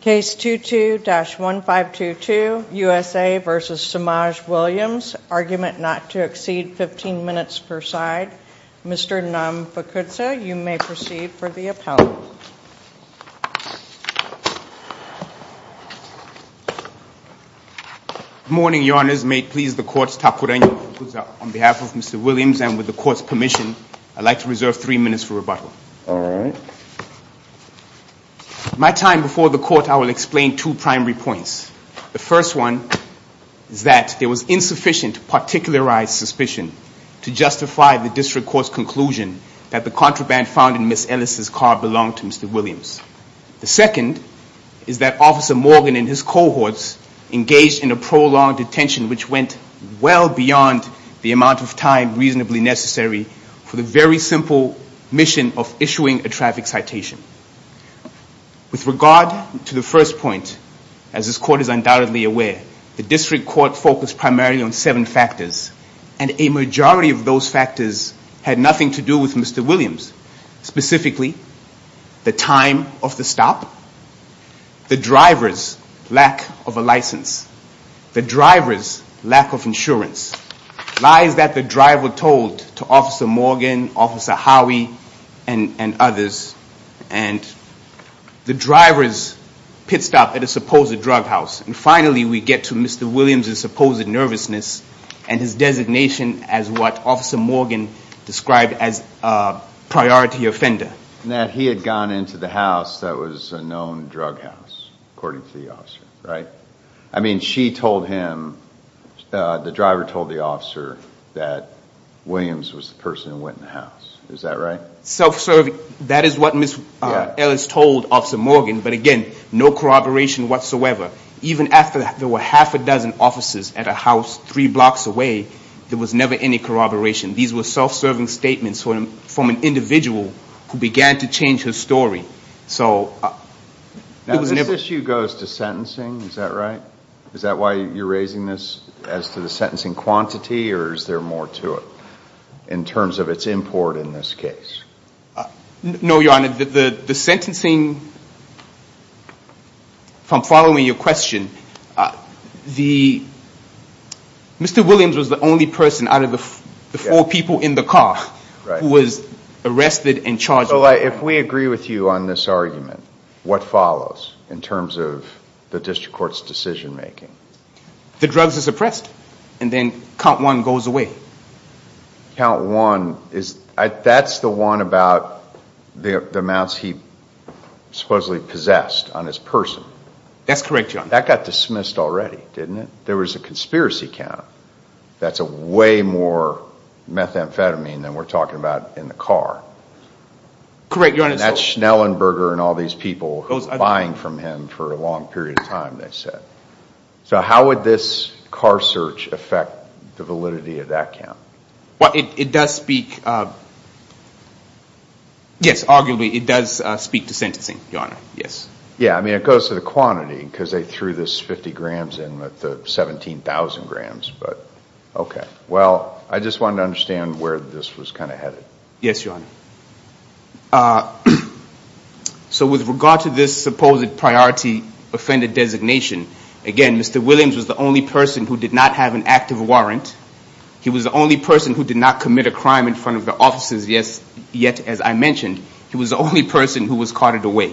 Case 22-1522, USA v. Semaj Williams. Argument not to exceed 15 minutes per side. Mr. Nam Fakudza, you may proceed for the appellate. Good morning, your honors. May it please the courts, Takure Nam Fakudza, on behalf of Mr. Williams and with the court's permission, I'd like to reserve three minutes for rebuttal. My time before the court, I will explain two primary points. The first one is that there was insufficient particularized suspicion to justify the district court's conclusion that the contraband found in Ms. Ellis' car belonged to Mr. Williams. The second is that Officer Morgan and his cohorts engaged in a prolonged detention which went well beyond the amount of time reasonably necessary for the very simple mission of issuing a traffic citation. With regard to the first point, as this court is undoubtedly aware, the district court focused primarily on seven factors and a majority of those factors had nothing to do with Mr. Williams. Specifically, the time of the stop, the driver's lack of a license, the driver's lack of insurance, lies that the driver told to Officer Morgan, Officer Howey, and others, and the driver's pit stop at a supposed drug house. And finally, we get to Mr. Williams' supposed nervousness and his designation as what Officer Morgan described as a priority offender. That he had gone into the house that was a known drug house, according to the officer, right? I mean, she told him, the driver told the officer that Williams was the person who went in the house. Is that right? Self-serving, that is what Ms. Ellis told Officer Morgan, but again, no corroboration whatsoever. Even after there were half a dozen officers at a house three blocks away, there was never any corroboration. These were self-serving statements from an individual who began to change his story. Now, this issue goes to sentencing, is that right? Is that why you're raising this as to the sentencing quantity or is there more to it in terms of its import in this case? No, Your Honor. The sentencing, if I'm following your question, Mr. Williams was the only person out of the four people in the car who was arrested and charged. So if we agree with you on this argument, what follows in terms of the district court's decision making? The drugs are suppressed and then count one goes away. Count one, that's the one about the amounts he supposedly possessed on his person. That's correct, Your Honor. That got dismissed already, didn't it? There was a conspiracy count. That's way more methamphetamine than we're talking about in the car. Correct, Your Honor. That's Schnellenberger and all these people buying from him for a long period of time, they said. So how would this car search affect the validity of that count? It does speak, yes, arguably it does speak to sentencing, Your Honor, yes. Yeah, I mean it goes to the quantity because they threw this 50 grams in with the 17,000 grams, but okay. Well, I just wanted to understand where this was kind of headed. Yes, Your Honor. So with regard to this supposed priority offender designation, again, Mr. Williams was the only person who did not have an active warrant. He was the only person who did not commit a crime in front of the officers, yet as I mentioned, he was the only person who was carted away.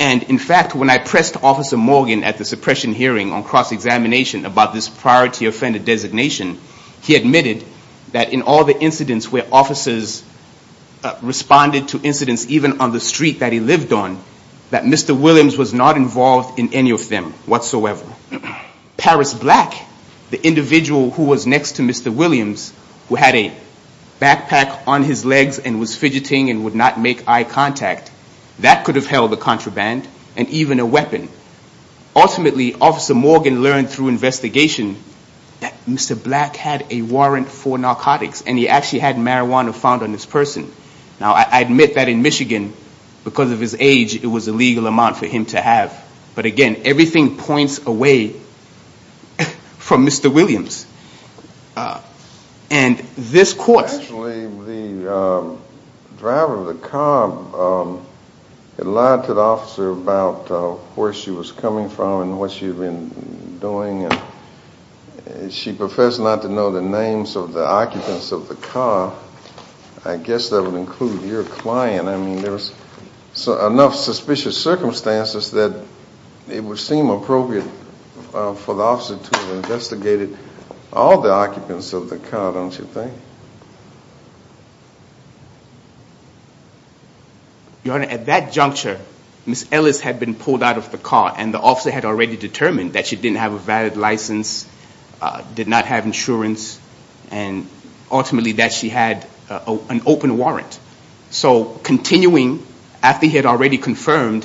And in fact, when I pressed Officer Morgan at the suppression hearing on cross-examination about this priority offender designation, he admitted that in all the incidents where officers responded to incidents even on the street that he lived on, that Mr. Williams was not involved in any of them whatsoever. Paris Black, the individual who was next to Mr. Williams, who had a backpack on his legs and was fidgeting and would not make eye contact, that could have held a contraband and even a weapon. Ultimately, Officer Morgan learned through investigation that Mr. Black had a warrant for narcotics, and he actually had marijuana found on this person. Now I admit that in Michigan, because of his age, it was a legal amount for him to have. But again, everything points away from Mr. Williams. Actually, the driver of the car lied to the officer about where she was coming from and what she had been doing. She professed not to know the names of the occupants of the car. I guess that would include your client. I mean, there's enough suspicious circumstances that it would seem appropriate for the officer to have investigated all the occupants of the car, don't you think? Your Honor, at that juncture, Ms. Ellis had been pulled out of the car, and the officer had already determined that she didn't have a valid license, did not have insurance, and ultimately that she had an open warrant. So continuing, after he had already confirmed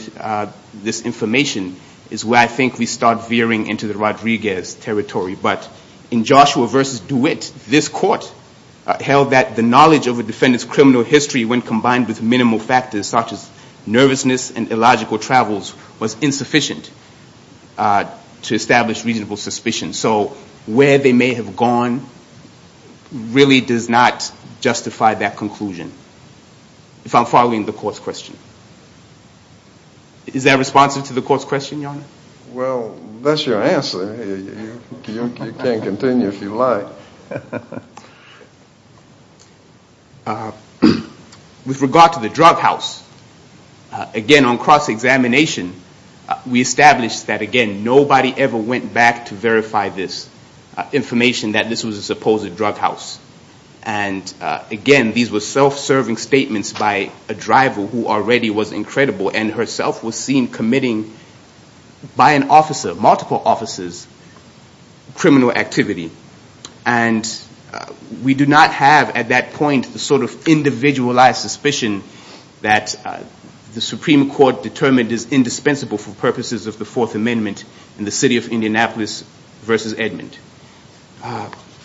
this information, is where I think we start veering into the Rodriguez territory. But in Joshua v. DeWitt, this court held that the knowledge of a defendant's criminal history, when combined with minimal factors such as nervousness and illogical travels, was insufficient to establish reasonable suspicion. So where they may have gone really does not justify that conclusion, if I'm following the court's question. Is that responsive to the court's question, Your Honor? Well, that's your answer. You can continue if you like. With regard to the drug house, again, on cross-examination, we established that, again, nobody ever went back to verify this information that this was a supposed drug house. And again, these were self-serving statements by a driver who already was incredible and herself was seen committing, by an officer, multiple officers, criminal activity. And we do not have, at that point, the sort of individualized suspicion that the Supreme Court determined is indispensable for purposes of the Fourth Amendment in the city of Indianapolis v. Edmond.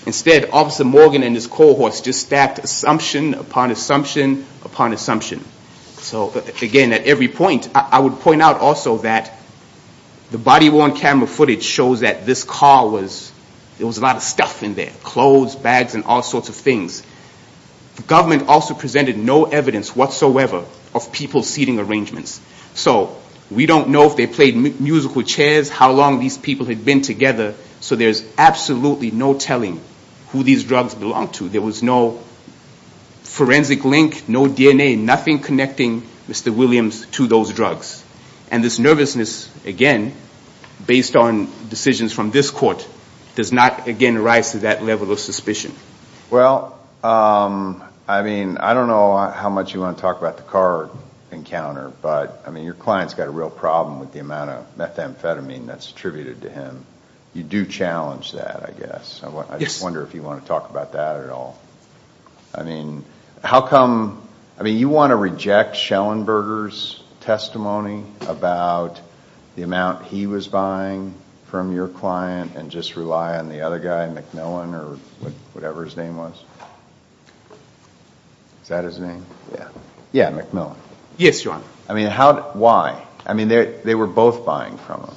Instead, Officer Morgan and his cohorts just stacked assumption upon assumption upon assumption. So again, at every point, I would point out also that the body-worn camera footage shows that this car was, there was a lot of stuff in there. Clothes, bags, and all sorts of things. The government also presented no evidence whatsoever of people seating arrangements. So we don't know if they played music with chairs, how long these people had been together, so there's absolutely no telling who these drugs belonged to. There was no forensic link, no DNA, nothing connecting Mr. Williams to those drugs. And this nervousness, again, based on decisions from this court, does not, again, rise to that level of suspicion. Well, I mean, I don't know how much you want to talk about the car encounter, but your client's got a real problem with the amount of methamphetamine that's attributed to him. You do challenge that, I guess. I just wonder if you want to talk about that at all. I mean, how come, I mean, you want to reject Schellenberger's testimony about the amount he was buying from your client and just rely on the other guy, MacMillan, or whatever his name was? Is that his name? Yeah. Yeah, MacMillan. Yes, Your Honor. I mean, how, why? I mean, they were both buying from him.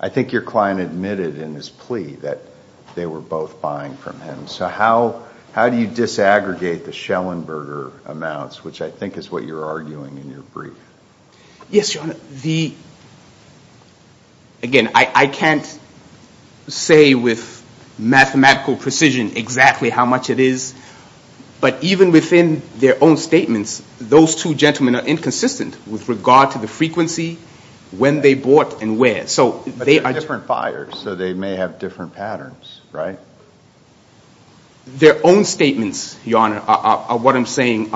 I think your client admitted in his plea that they were both buying from him. So how do you disaggregate the Schellenberger amounts, which I think is what you're arguing in your brief? Yes, Your Honor. The, again, I can't say with mathematical precision exactly how much it is. But even within their own statements, those two gentlemen are inconsistent with regard to the frequency, when they bought, and where. But they're different buyers, so they may have different patterns, right? Their own statements, Your Honor, are what I'm saying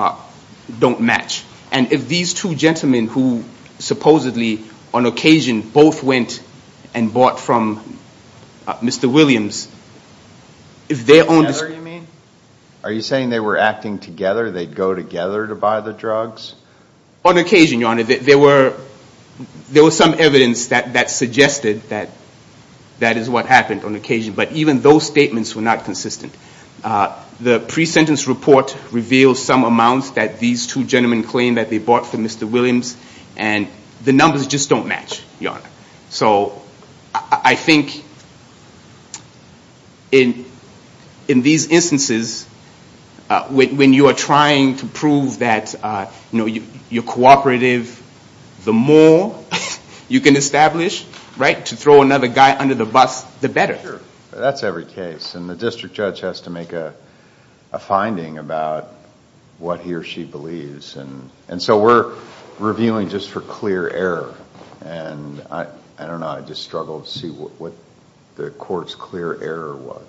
don't match. And if these two gentlemen who supposedly, on occasion, both went and bought from Mr. Williams, if their own... Together, you mean? Are you saying they were acting together? They'd go together to buy the drugs? On occasion, Your Honor. There were some evidence that suggested that that is what happened on occasion. But even those statements were not consistent. The pre-sentence report reveals some amounts that these two gentlemen claimed that they bought from Mr. Williams, and the numbers just don't match, Your Honor. So I think in these instances, when you are trying to prove that you're cooperative, the more you can establish, right, to throw another guy under the bus, the better. That's every case. And the district judge has to make a finding about what he or she believes. And so we're reviewing just for clear error. And I don't know. I just struggle to see what the court's clear error was.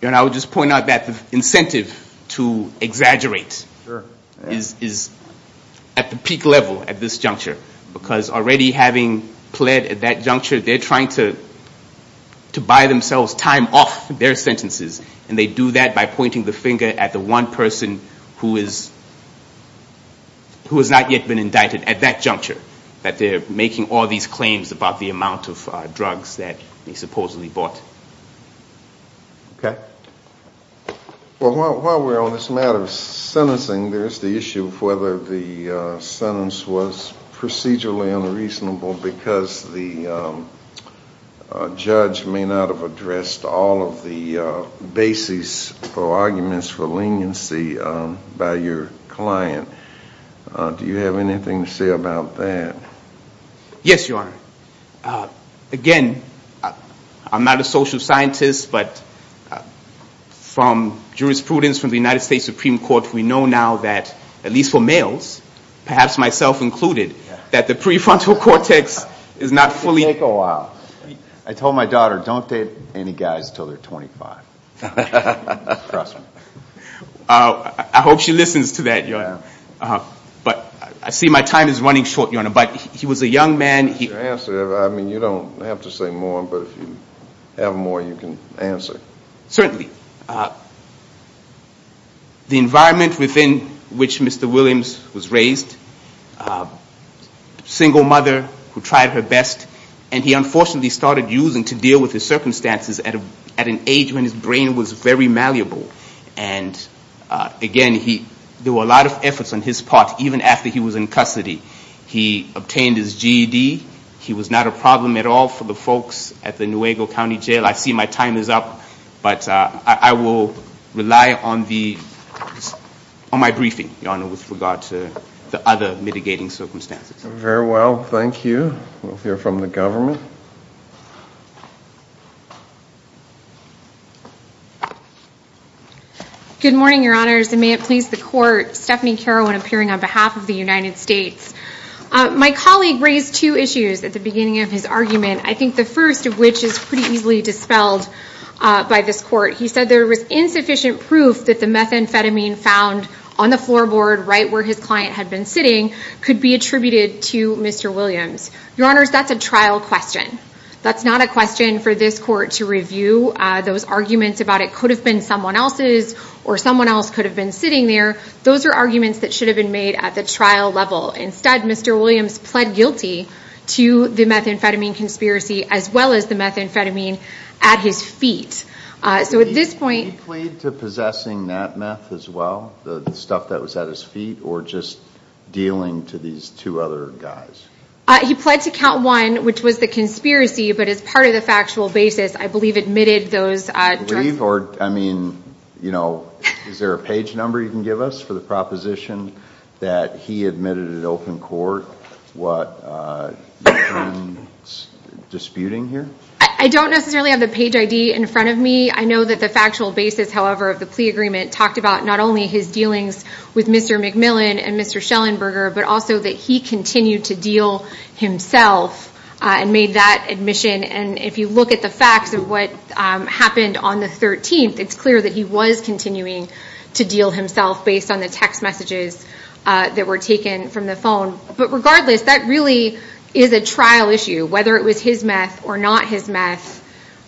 Your Honor, I would just point out that the incentive to exaggerate is at the peak level at this juncture. Because already having pled at that juncture, they're trying to buy themselves time off their sentences. And they do that by pointing the finger at the one person who has not yet been indicted at that juncture. That they're making all these claims about the amount of drugs that they supposedly bought. Okay. Well, while we're on this matter of sentencing, there's the issue of whether the sentence was procedurally unreasonable, because the judge may not have addressed all of the basis for arguments for leniency by your client. Do you have anything to say about that? Yes, Your Honor. Again, I'm not a social scientist, but from jurisprudence from the United States Supreme Court, we know now that, at least for males, perhaps myself included, that the prefrontal cortex is not fully. It can take a while. I told my daughter, don't date any guys until they're 25. Trust me. I hope she listens to that, Your Honor. But I see my time is running short, Your Honor. But he was a young man. I mean, you don't have to say more, but if you have more, you can answer. Certainly. The environment within which Mr. Williams was raised, single mother who tried her best, and he unfortunately started using to deal with his circumstances at an age when his brain was very malleable. And again, there were a lot of efforts on his part, even after he was in custody. He obtained his GED. He was not a problem at all for the folks at the Nuevo County Jail. I see my time is up, but I will rely on my briefing, Your Honor, with regard to the other mitigating circumstances. Very well. Thank you. We'll hear from the government. Good morning, Your Honors, and may it please the Court. I'm Stephanie Carroll, and I'm appearing on behalf of the United States. My colleague raised two issues at the beginning of his argument, I think the first of which is pretty easily dispelled by this Court. He said there was insufficient proof that the methamphetamine found on the floorboard right where his client had been sitting could be attributed to Mr. Williams. Your Honors, that's a trial question. That's not a question for this Court to review. Those arguments about it could have been someone else's or someone else could have been sitting there, those are arguments that should have been made at the trial level. Instead, Mr. Williams pled guilty to the methamphetamine conspiracy as well as the methamphetamine at his feet. So at this point- Did he plead to possessing that meth as well, the stuff that was at his feet, or just dealing to these two other guys? He pled to count one, which was the conspiracy, but as part of the factual basis, I believe admitted those- Is there a page number you can give us for the proposition that he admitted at open court what you're disputing here? I don't necessarily have the page ID in front of me. I know that the factual basis, however, of the plea agreement talked about not only his dealings with Mr. McMillan and Mr. Schellenberger, but also that he continued to deal himself and made that admission. And if you look at the facts of what happened on the 13th, it's clear that he was continuing to deal himself based on the text messages that were taken from the phone. But regardless, that really is a trial issue, whether it was his meth or not his meth.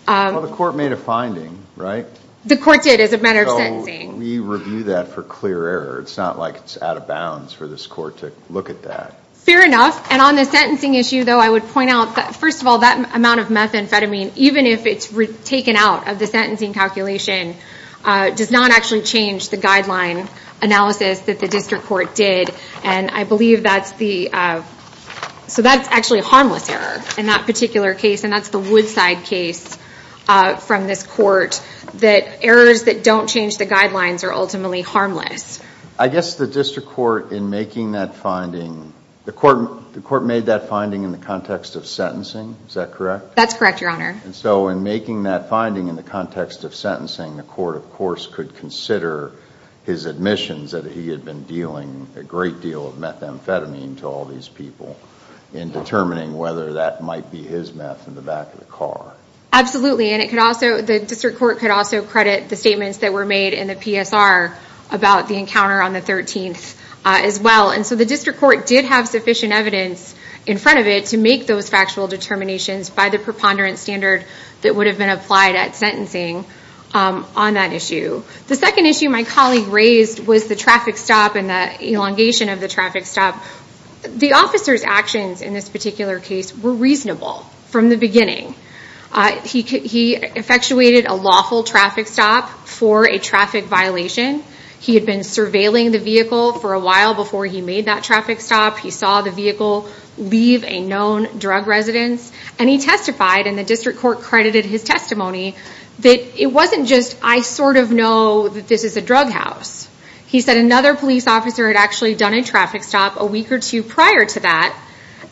Well, the court made a finding, right? The court did as a matter of sentencing. So we review that for clear error. It's not like it's out of bounds for this court to look at that. Fair enough. And on the sentencing issue, though, I would point out that, first of all, that amount of methamphetamine, even if it's taken out of the sentencing calculation, does not actually change the guideline analysis that the district court did. And I believe that's the- So that's actually a harmless error in that particular case, and that's the Woodside case from this court, that errors that don't change the guidelines are ultimately harmless. I guess the district court, in making that finding, the court made that finding in the context of sentencing. Is that correct? That's correct, Your Honor. And so in making that finding in the context of sentencing, the court, of course, could consider his admissions that he had been dealing a great deal of methamphetamine to all these people in determining whether that might be his meth in the back of the car. Absolutely. And the district court could also credit the statements that were made in the PSR about the encounter on the 13th as well. And so the district court did have sufficient evidence in front of it to make those factual determinations by the preponderance standard that would have been applied at sentencing on that issue. The second issue my colleague raised was the traffic stop and the elongation of the traffic stop. The officer's actions in this particular case were reasonable from the beginning. He effectuated a lawful traffic stop for a traffic violation. He had been surveilling the vehicle for a while before he made that traffic stop. He saw the vehicle leave a known drug residence, and he testified, and the district court credited his testimony, that it wasn't just, I sort of know that this is a drug house. He said another police officer had actually done a traffic stop a week or two prior to that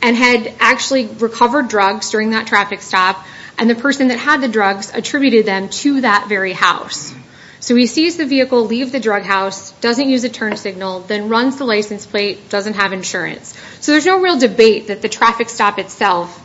and had actually recovered drugs during that traffic stop, and the person that had the drugs attributed them to that very house. So he sees the vehicle leave the drug house, doesn't use a turn signal, then runs the license plate, doesn't have insurance. So there's no real debate that the traffic stop itself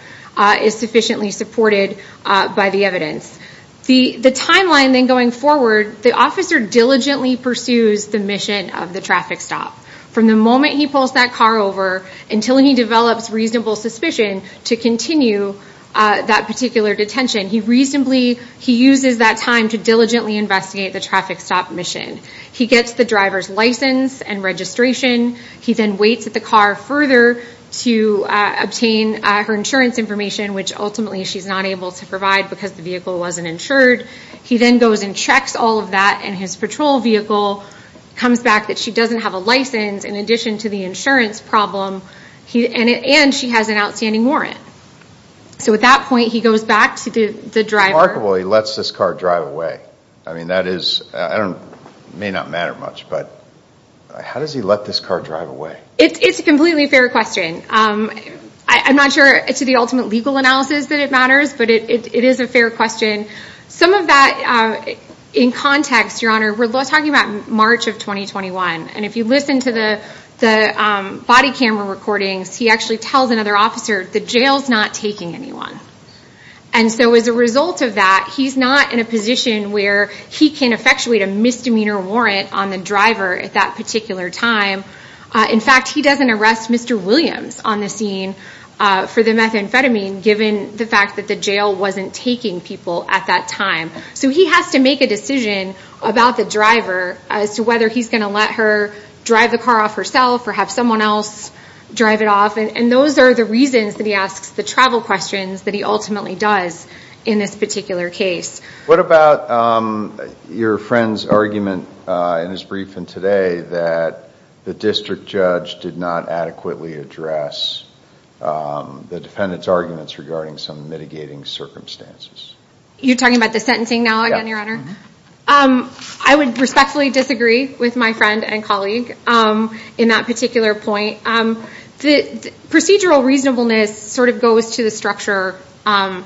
is sufficiently supported by the evidence. The timeline then going forward, the officer diligently pursues the mission of the traffic stop. From the moment he pulls that car over until he develops reasonable suspicion to continue that particular detention, he reasonably, he uses that time to diligently investigate the traffic stop mission. He gets the driver's license and registration. He then waits at the car further to obtain her insurance information, which ultimately she's not able to provide because the vehicle wasn't insured. He then goes and checks all of that, and his patrol vehicle comes back that she doesn't have a license in addition to the insurance problem, and she has an outstanding warrant. So at that point, he goes back to the driver. Remarkably, he lets this car drive away. I mean, that is, it may not matter much, but how does he let this car drive away? It's a completely fair question. I'm not sure to the ultimate legal analysis that it matters, but it is a fair question. Some of that in context, Your Honor, we're talking about March of 2021, and if you listen to the body camera recordings, he actually tells another officer, the jail's not taking anyone. And so as a result of that, he's not in a position where he can effectuate a misdemeanor warrant on the driver at that particular time. In fact, he doesn't arrest Mr. Williams on the scene for the methamphetamine given the fact that the jail wasn't taking people at that time. So he has to make a decision about the driver as to whether he's going to let her drive the car off herself or have someone else drive it off, and those are the reasons that he asks the travel questions that he ultimately does in this particular case. What about your friend's argument in his briefing today that the district judge did not adequately address the defendant's arguments regarding some mitigating circumstances? You're talking about the sentencing now again, Your Honor? I would respectfully disagree with my friend and colleague in that particular point. Procedural reasonableness sort of goes to the structure of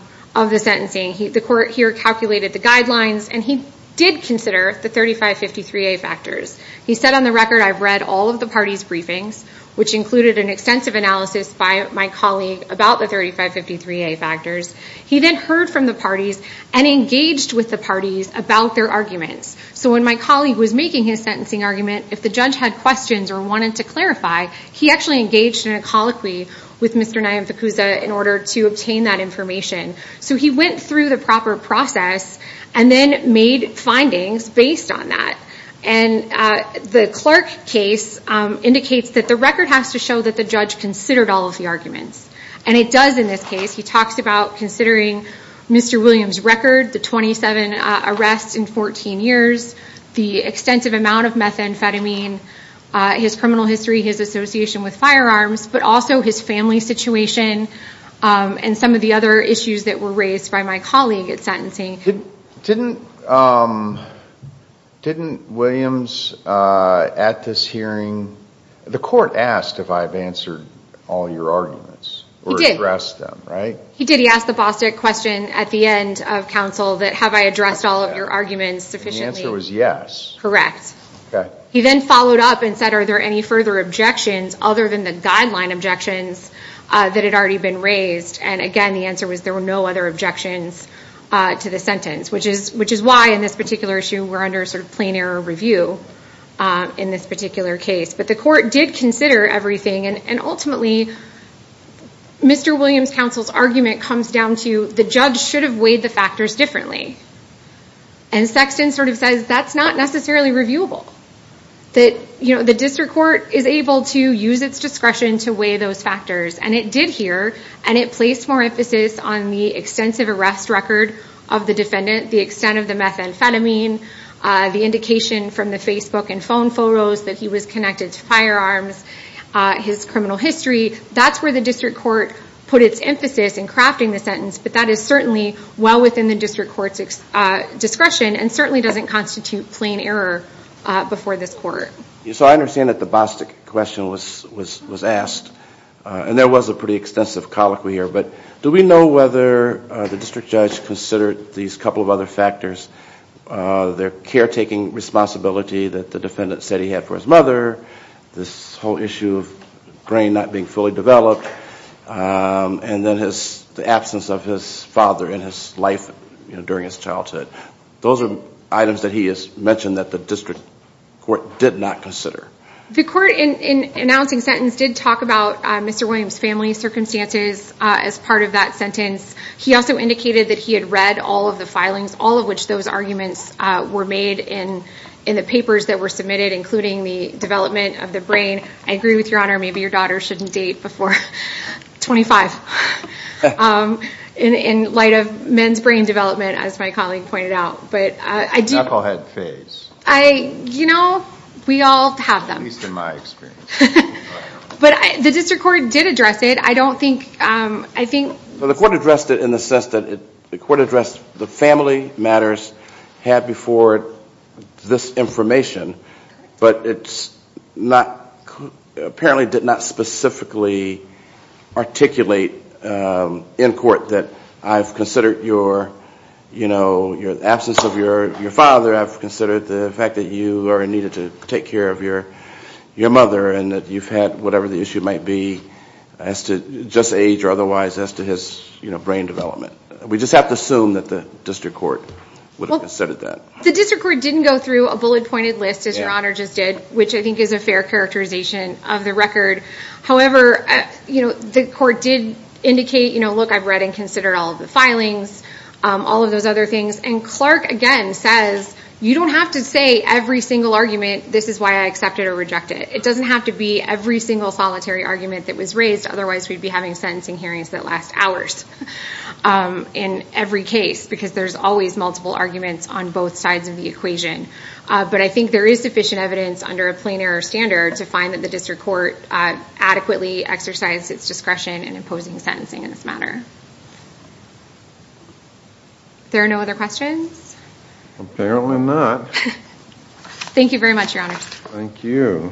the sentencing. The court here calculated the guidelines, and he did consider the 3553A factors. He said, on the record, I've read all of the parties' briefings, which included an extensive analysis by my colleague about the 3553A factors. He then heard from the parties and engaged with the parties about their arguments. So when my colleague was making his sentencing argument, if the judge had questions or wanted to clarify, he actually engaged in a colloquy with Mr. Nayem Fakouza in order to obtain that information. So he went through the proper process and then made findings based on that. And the clerk case indicates that the record has to show that the judge considered all of the arguments. And it does in this case. He talks about considering Mr. Williams' record, the 27 arrests in 14 years, the extensive amount of methamphetamine, his criminal history, his association with firearms, but also his family situation and some of the other issues that were raised by my colleague at sentencing. Didn't Williams, at this hearing, the court asked if I've answered all your arguments? He did. Or addressed them, right? He did. He asked the Bostick question at the end of counsel that have I addressed all of your arguments sufficiently. And the answer was yes. Correct. Okay. He then followed up and said are there any further objections other than the guideline objections that had already been raised. And, again, the answer was there were no other objections to the sentence, which is why in this particular issue we're under sort of plain error review in this particular case. But the court did consider everything. And ultimately Mr. Williams' counsel's argument comes down to the judge should have weighed the factors differently. And Sexton sort of says that's not necessarily reviewable. That, you know, the district court is able to use its discretion to weigh those factors. And it did here. And it placed more emphasis on the extensive arrest record of the defendant, the extent of the methamphetamine, the indication from the Facebook and phone photos that he was connected to firearms, his criminal history. That's where the district court put its emphasis in crafting the sentence. But that is certainly well within the district court's discretion and certainly doesn't constitute plain error before this court. So I understand that the Bostic question was asked. And there was a pretty extensive colloquy here. But do we know whether the district judge considered these couple of other factors, their caretaking responsibility that the defendant said he had for his mother, this whole issue of grain not being fully developed, and then the absence of his father in his life during his childhood. Those are items that he has mentioned that the district court did not consider. The court in announcing sentence did talk about Mr. Williams' family circumstances as part of that sentence. He also indicated that he had read all of the filings, all of which those arguments were made in the papers that were submitted, including the development of the brain. I agree with Your Honor, maybe your daughter shouldn't date before 25. In light of men's brain development, as my colleague pointed out. But I do... Applehead phase. You know, we all have them. At least in my experience. But the district court did address it. I don't think, I think... Well, the court addressed it in the sense that the court addressed the family matters had before this information, but it's not, apparently did not specifically articulate in court that I've considered your, you know, your absence of your father, I've considered the fact that you are needed to take care of your mother and that you've had whatever the issue might be as to just age or otherwise as to his, you know, brain development. We just have to assume that the district court would have considered that. The district court didn't go through a bullet pointed list, as Your Honor just did, which I think is a fair characterization of the record. However, you know, the court did indicate, you know, look, I've read and considered all of the filings, all of those other things. And Clark, again, says you don't have to say every single argument. This is why I accept it or reject it. It doesn't have to be every single solitary argument that was raised. Otherwise, we'd be having sentencing hearings that last hours in every case because there's always multiple arguments on both sides of the equation. But I think there is sufficient evidence under a plain error standard to find that the district court adequately exercised its discretion in imposing sentencing in this matter. There are no other questions? Apparently not. Thank you very much, Your Honor. Thank you.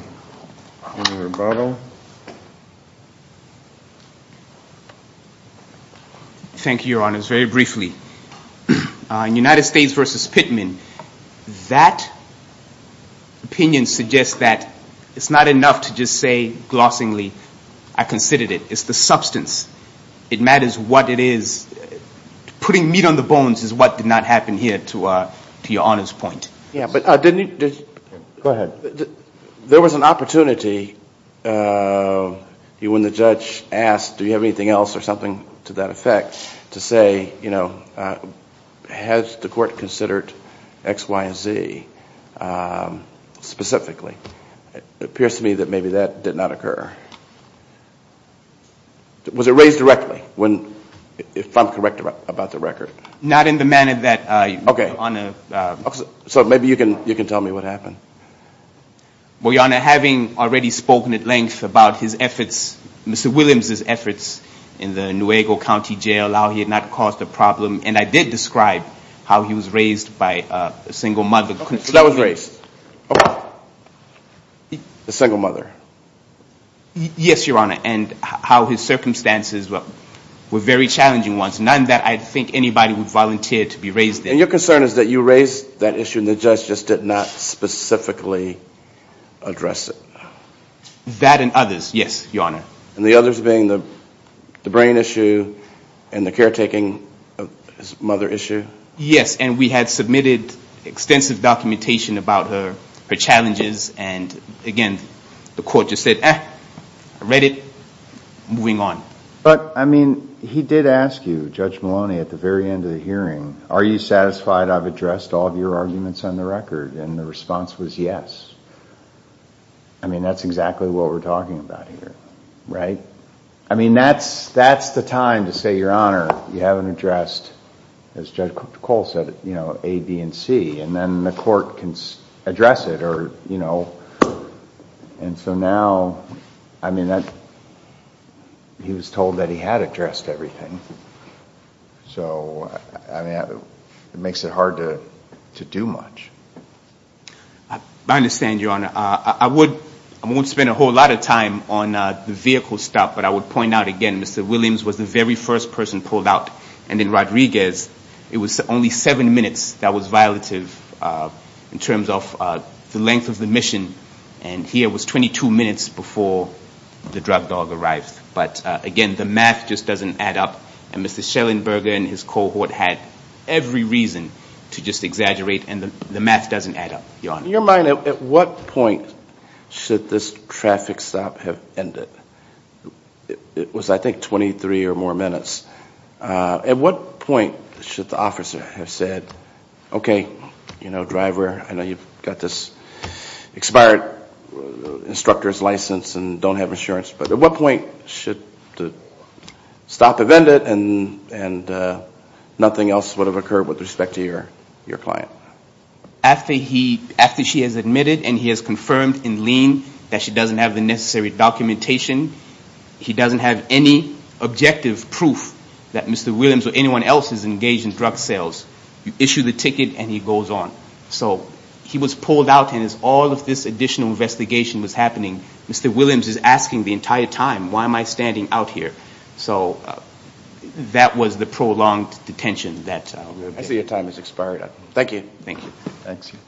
Senator Barlow. Thank you, Your Honors. Very briefly, in United States v. Pittman, that opinion suggests that it's not enough to just say, glossingly, I considered it. It's the substance. It matters what it is. Putting meat on the bones is what did not happen here, to Your Honor's point. Go ahead. There was an opportunity when the judge asked, do you have anything else or something to that effect, to say, you know, has the court considered X, Y, and Z specifically? It appears to me that maybe that did not occur. Was it raised directly, if I'm correct about the record? Not in the manner that, Your Honor. Okay. So maybe you can tell me what happened. Well, Your Honor, having already spoken at length about his efforts, Mr. Williams' efforts in the Nuego County Jail, how he had not caused a problem, and I did describe how he was raised by a single mother. So that was raised by a single mother? Yes, Your Honor, and how his circumstances were very challenging ones. None that I think anybody would volunteer to be raised in. And your concern is that you raised that issue and the judge just did not specifically address it? That and others, yes, Your Honor. And the others being the brain issue and the caretaking of his mother issue? Yes, and we had submitted extensive documentation about her challenges, and, again, the court just said, eh, I read it, moving on. But, I mean, he did ask you, Judge Maloney, at the very end of the hearing, are you satisfied I've addressed all of your arguments on the record? And the response was yes. I mean, that's exactly what we're talking about here, right? I mean, that's the time to say, Your Honor, you haven't addressed, as Judge Cole said, A, B, and C, and so now, I mean, he was told that he had addressed everything. So, I mean, it makes it hard to do much. I understand, Your Honor. I won't spend a whole lot of time on the vehicle stop, but I would point out, again, Mr. Williams was the very first person pulled out, and then Rodriguez. It was only seven minutes that was violative in terms of the length of the mission, and here it was 22 minutes before the drug dog arrived. But, again, the math just doesn't add up, and Mr. Schellenberger and his cohort had every reason to just exaggerate, and the math doesn't add up, Your Honor. In your mind, at what point should this traffic stop have ended? It was, I think, 23 or more minutes. At what point should the officer have said, okay, you know, driver, I know you've got this expired instructor's license and don't have insurance, but at what point should the stop have ended and nothing else would have occurred with respect to your client? After she has admitted and he has confirmed in lien that she doesn't have the necessary documentation, he doesn't have any objective proof that Mr. Williams or anyone else is engaged in drug sales. You issue the ticket, and he goes on. So he was pulled out, and as all of this additional investigation was happening, Mr. Williams is asking the entire time, why am I standing out here? So that was the prolonged detention. I see your time has expired. Thank you. Thank you.